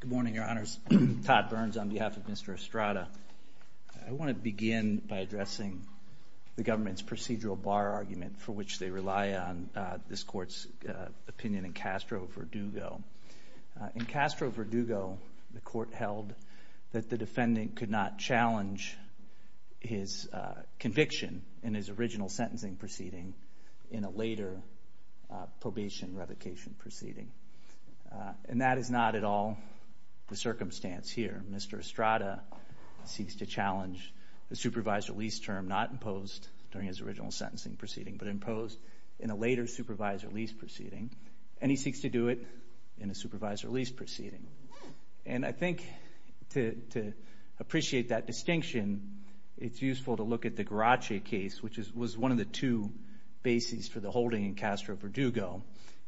Good morning, Your Honors. Todd Burns on behalf of Mr. Estrada. I want to begin by addressing the government's procedural bar argument for which they rely on this court's opinion in Castro-Verdugo. In Castro-Verdugo, the court held that the defendant could not challenge his conviction in his original sentencing proceeding in a later probation revocation proceeding. And that is not at all the circumstance here. Mr. Estrada seeks to challenge the supervisor lease term not imposed during his original sentencing proceeding, but imposed in a later supervisor lease proceeding. And he seeks to do it in a supervisor lease proceeding. And I think to appreciate that distinction, it's useful to look at the Garace case, which was one of the two bases for the holding in Castro-Verdugo.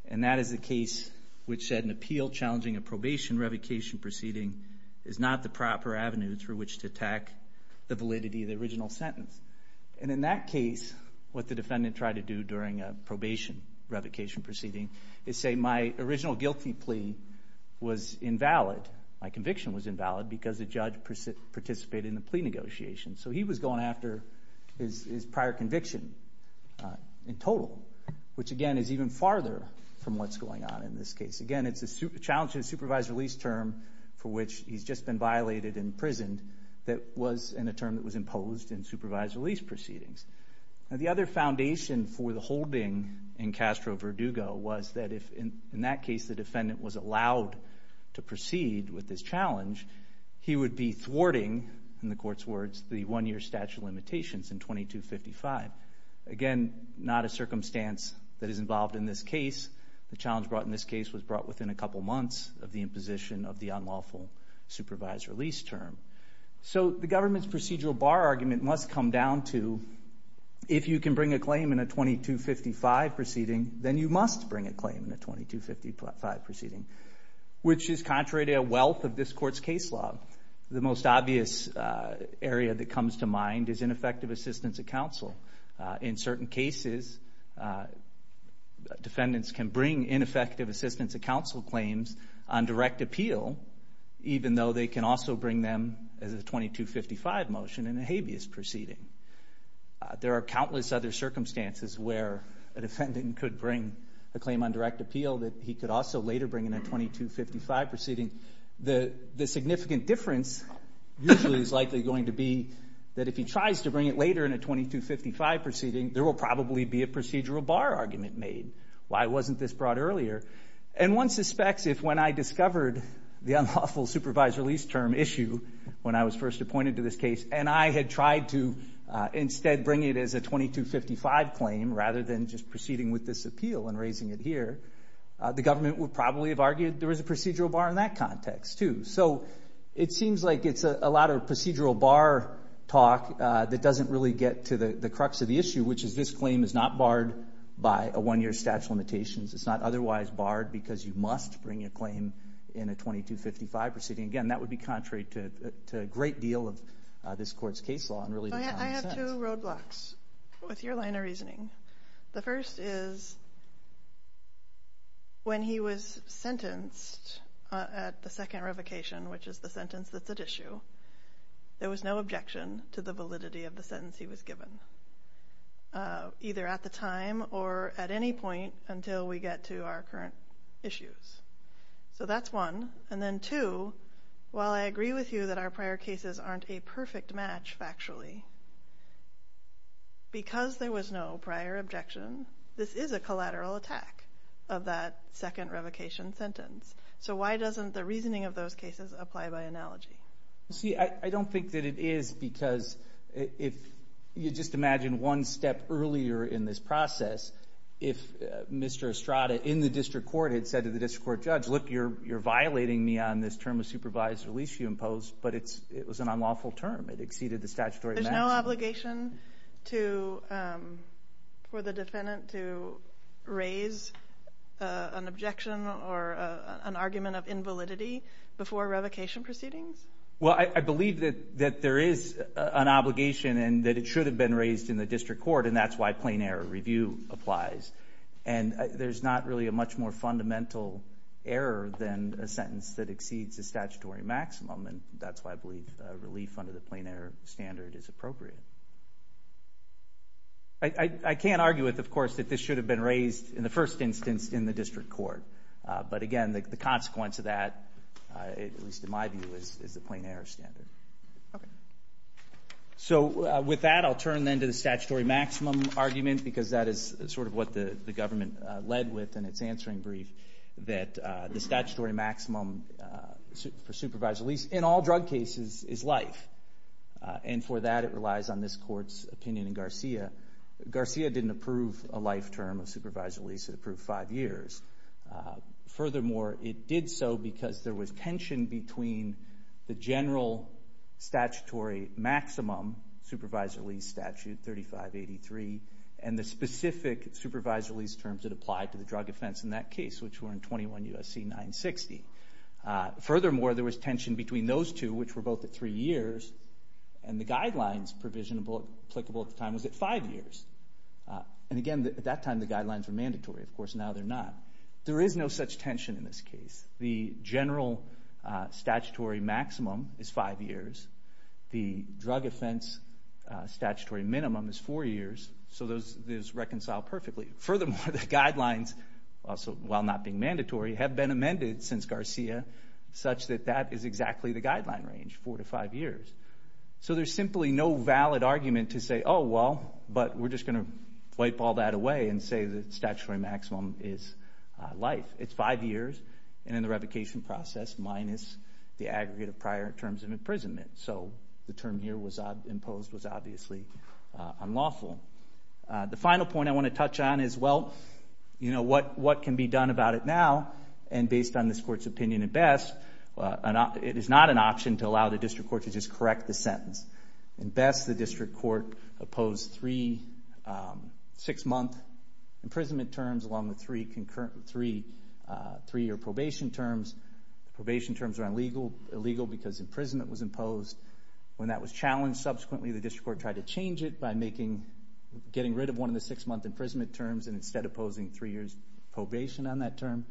And that is a case which said an appeal challenging a probation revocation proceeding is not the proper avenue through which to attack the validity of the original sentence. And in that case, what the defendant tried to do during a probation revocation proceeding is say, my original guilty plea was invalid. My conviction was invalid because the judge participated in the plea negotiation. So he was going after his prior conviction in total, which again is even farther from what's going on in this case. Again, it's a challenge to the supervisor lease term for which he's just been violated and imprisoned that was in a term that was imposed in supervisor lease proceedings. The other foundation for the holding in Castro-Verdugo was that if in that case the defendant was allowed to proceed with this challenge, he would be thwarting, in the court's words, the one-year statute of limitations in 2255. Again, not a circumstance that is involved in this case. The challenge brought in this case was brought within a couple months of the imposition of the unlawful supervisor lease term. So the government's procedural bar argument must come down to, if you can bring a claim in a 2255 proceeding, then you must bring a claim in a 2255 proceeding, which is contrary to a wealth of this court's case law. The most obvious area that comes to mind is ineffective assistance of counsel. In certain cases, defendants can bring ineffective assistance of counsel claims on direct appeal, even though they can also bring them as a 2255 motion in a habeas proceeding. There are countless other circumstances where a defendant could bring a claim on direct appeal that he could also later bring in a 2255 proceeding. The significant difference usually is likely going to be that if he tries to bring it later in a 2255 proceeding, there will probably be a procedural bar argument made. Why wasn't this brought earlier? And one suspects if when I discovered the unlawful supervisor lease term issue when I was first appointed to this case, and I had tried to instead bring it as a 2255 claim rather than just proceeding with this appeal and raising it here, the government would probably have argued there was a procedural bar in that context, too. So it seems like it's a lot of procedural bar talk that doesn't really get to the crux of the issue, which is this claim is not barred by a one-year statute of limitations. It's not otherwise barred because you must bring a claim in a 2255 proceeding. Again, that is a great deal of this court's case law. I have two roadblocks with your line of reasoning. The first is when he was sentenced at the second revocation, which is the sentence that's at issue, there was no objection to the validity of the sentence he was given either at the time or at any point until we agree with you that our prior cases aren't a perfect match factually. Because there was no prior objection, this is a collateral attack of that second revocation sentence. So why doesn't the reasoning of those cases apply by analogy? See, I don't think that it is because if you just imagine one step earlier in this process, if Mr. Estrada in the district court had said to the district court judge, look, you're violating me on this term of supervised release you imposed, but it was an unlawful term. It exceeded the statutory maximum. There's no obligation for the defendant to raise an objection or an argument of invalidity before revocation proceedings? Well, I believe that there is an obligation and that it should have been raised in the district court, and that's why plain error maximum, and that's why I believe relief under the plain error standard is appropriate. I can't argue with, of course, that this should have been raised in the first instance in the district court. But again, the consequence of that, at least in my view, is the plain error standard. So with that, I'll turn then to the statutory maximum argument because that is sort of what the government led with in its answering brief, that the statutory maximum for supervised release in all drug cases is life. And for that, it relies on this court's opinion in Garcia. Garcia didn't approve a life term of supervised release. It approved five years. Furthermore, it did so because there was tension between the general statutory maximum, supervised release statute 3583, and the specific supervised release terms that apply to drug offense in that case, which were in 21 U.S.C. 960. Furthermore, there was tension between those two, which were both at three years, and the guidelines provisional applicable at the time was at five years. And again, at that time, the guidelines were mandatory. Of course, now they're not. There is no such tension in this case. The general statutory maximum is five years. The drug offense statutory minimum is four years. So those reconcile perfectly. Furthermore, the guidelines, while not being mandatory, have been amended since Garcia, such that that is exactly the guideline range, four to five years. So there's simply no valid argument to say, oh, well, but we're just going to wipe all that away and say the statutory maximum is life. It's five years, and in the revocation process, minus the aggregate of prior terms of imprisonment. So the term here imposed was obviously unlawful. The final point I want to touch on is, well, you know, what can be done about it now? And based on this court's opinion at best, it is not an option to allow the district court to just correct the sentence. At best, the district court opposed three six-month imprisonment terms along with three-year probation terms. Probation terms are illegal because imprisonment was imposed when that was challenged. Subsequently, the district court tried to change it by getting rid of one of the six-month imprisonment terms and instead opposing three years probation on that term.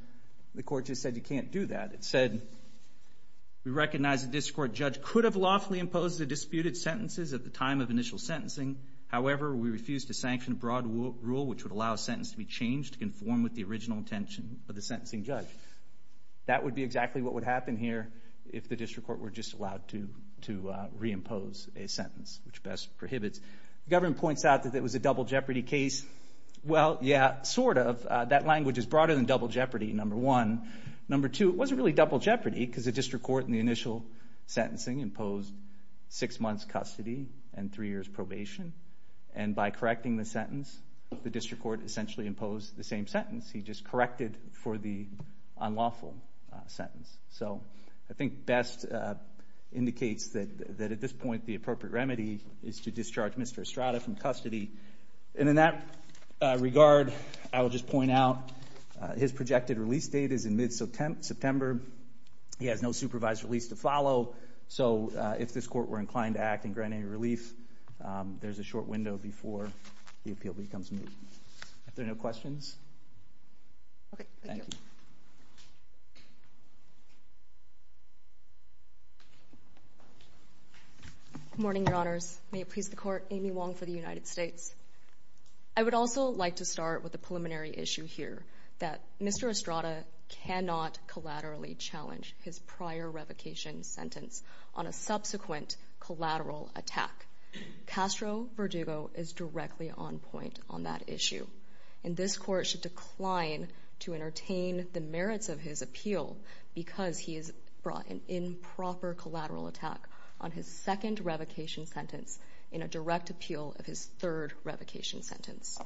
The court just said you can't do that. It said, we recognize the district court judge could have lawfully imposed the disputed sentences at the time of initial sentencing. However, we refuse to sanction a broad rule which would allow a sentence to be changed to conform with the which best prohibits. The government points out that it was a double jeopardy case. Well, yeah, sort of. That language is broader than double jeopardy, number one. Number two, it wasn't really double jeopardy because the district court in the initial sentencing imposed six months custody and three years probation. And by correcting the sentence, the district court essentially imposed the same sentence. He just corrected for the unlawful sentence. So I think best indicates that at this point the appropriate remedy is to discharge Mr. Estrada from custody. And in that regard, I will just point out his projected release date is in mid-September. He has no supervised release to follow. So if this court were inclined to act and grant any relief, there's a Morning, Your Honors. May it please the court, Amy Wong for the United States. I would also like to start with a preliminary issue here that Mr. Estrada cannot collaterally challenge his prior revocation sentence on a subsequent collateral attack. Castro-Verdugo is directly on point on that issue. And this court should improper collateral attack on his second revocation sentence in a direct appeal of his third revocation sentence.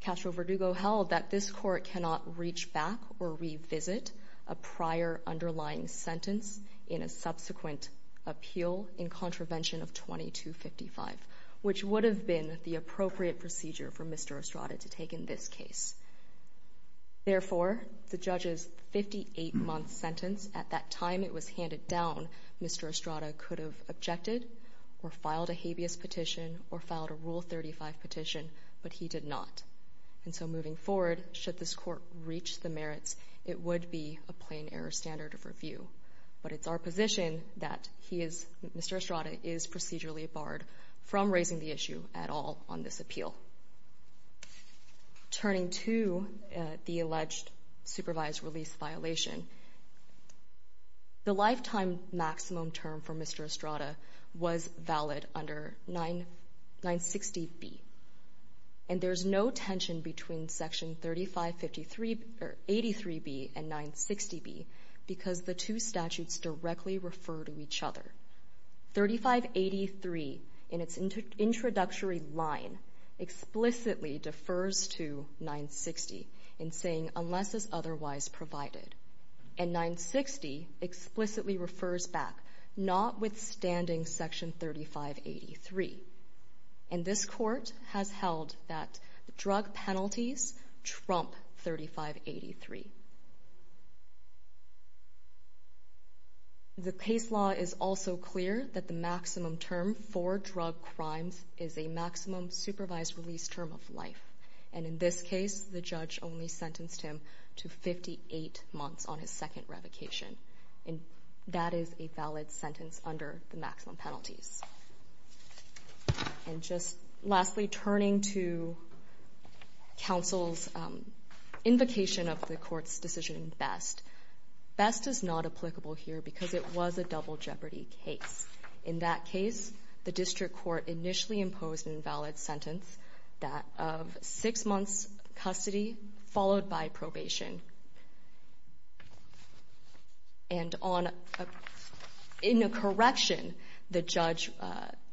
Castro-Verdugo held that this court cannot reach back or revisit a prior underlying sentence in a subsequent appeal in contravention of 2255, which would have been the appropriate procedure for Mr. Estrada's case. Therefore, the judge's 58-month sentence at that time it was handed down, Mr. Estrada could have objected or filed a habeas petition or filed a Rule 35 petition, but he did not. And so moving forward, should this court reach the merits, it would be a plain error standard of review. But it's our position that he is, Mr. on this appeal. Turning to the alleged supervised release violation, the lifetime maximum term for Mr. Estrada was valid under 960B. And there's no tension between Section 3583B and 960B because the two statutes directly refer to each other. 3583, in its introductory line, explicitly defers to 960 in saying, unless it's otherwise Trump 3583. The case law is also clear that the maximum term for drug crimes is a maximum supervised release term of life. And in this case, the judge only sentenced him to 58 months on his second invocation of the court's decision in Best. Best is not applicable here because it was a double jeopardy case. In that case, the district court initially imposed an invalid sentence, that of 6 months custody followed by probation. And in a correction, the judge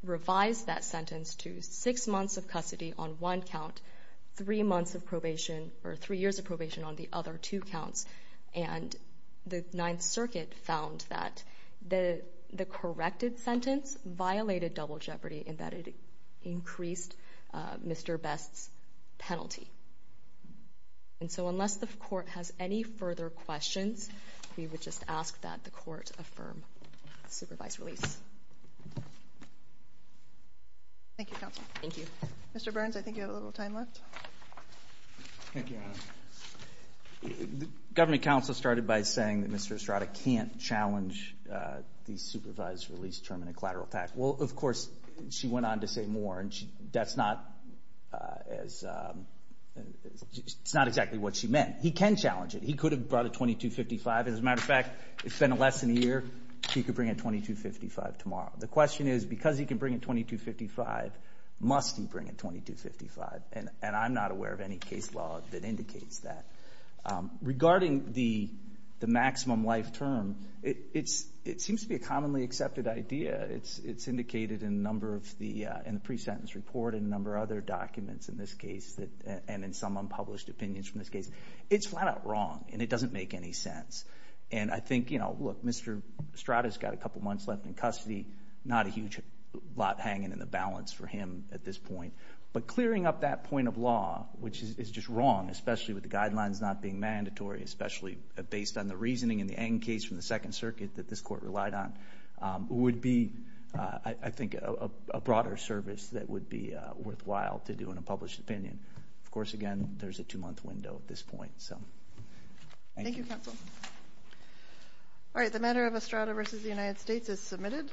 revised that sentence to 6 months of custody on one count, 3 years of probation on the other two counts. And the Ninth Circuit found that the corrected sentence violated double jeopardy in that it increased Mr. Best's penalty. And so unless the court has any further questions, we would just ask that the court affirm the supervised release. Thank you, Counsel. Thank you. Mr. Burns, I think you have a little time left. Thank you, Your Honor. Government counsel started by saying that Mr. Estrada can't challenge the supervised release term in a collateral attack. Well, of course, she went on to say more, and that's not exactly what she meant. He can challenge it. He could have brought a 2255. As a matter of fact, it's been less than a year. He could bring a 2255 tomorrow. The question is, because he can bring a 2255, must he bring a 2255? And I'm not aware of any case law that indicates that. Regarding the maximum life term, it seems to be a commonly accepted idea. It's indicated in a number of the pre-sentence report and a number of other documents in this case and in some unpublished opinions from this case. It's flat out wrong, and it doesn't make any sense. And I think, you know, look, Mr. Estrada's got a couple months left in custody, not a huge lot hanging in the balance for him at this point. But clearing up that point of law, which is just wrong, especially with the guidelines not being mandatory, especially based on the reasoning and the end case from the Second Circuit that this court relied on, would be, I think, a broader service that would be worthwhile to do in a published opinion. Of course, again, there's a two-month window at this point. Thank you, counsel. All right. The matter of Estrada v. United States is submitted.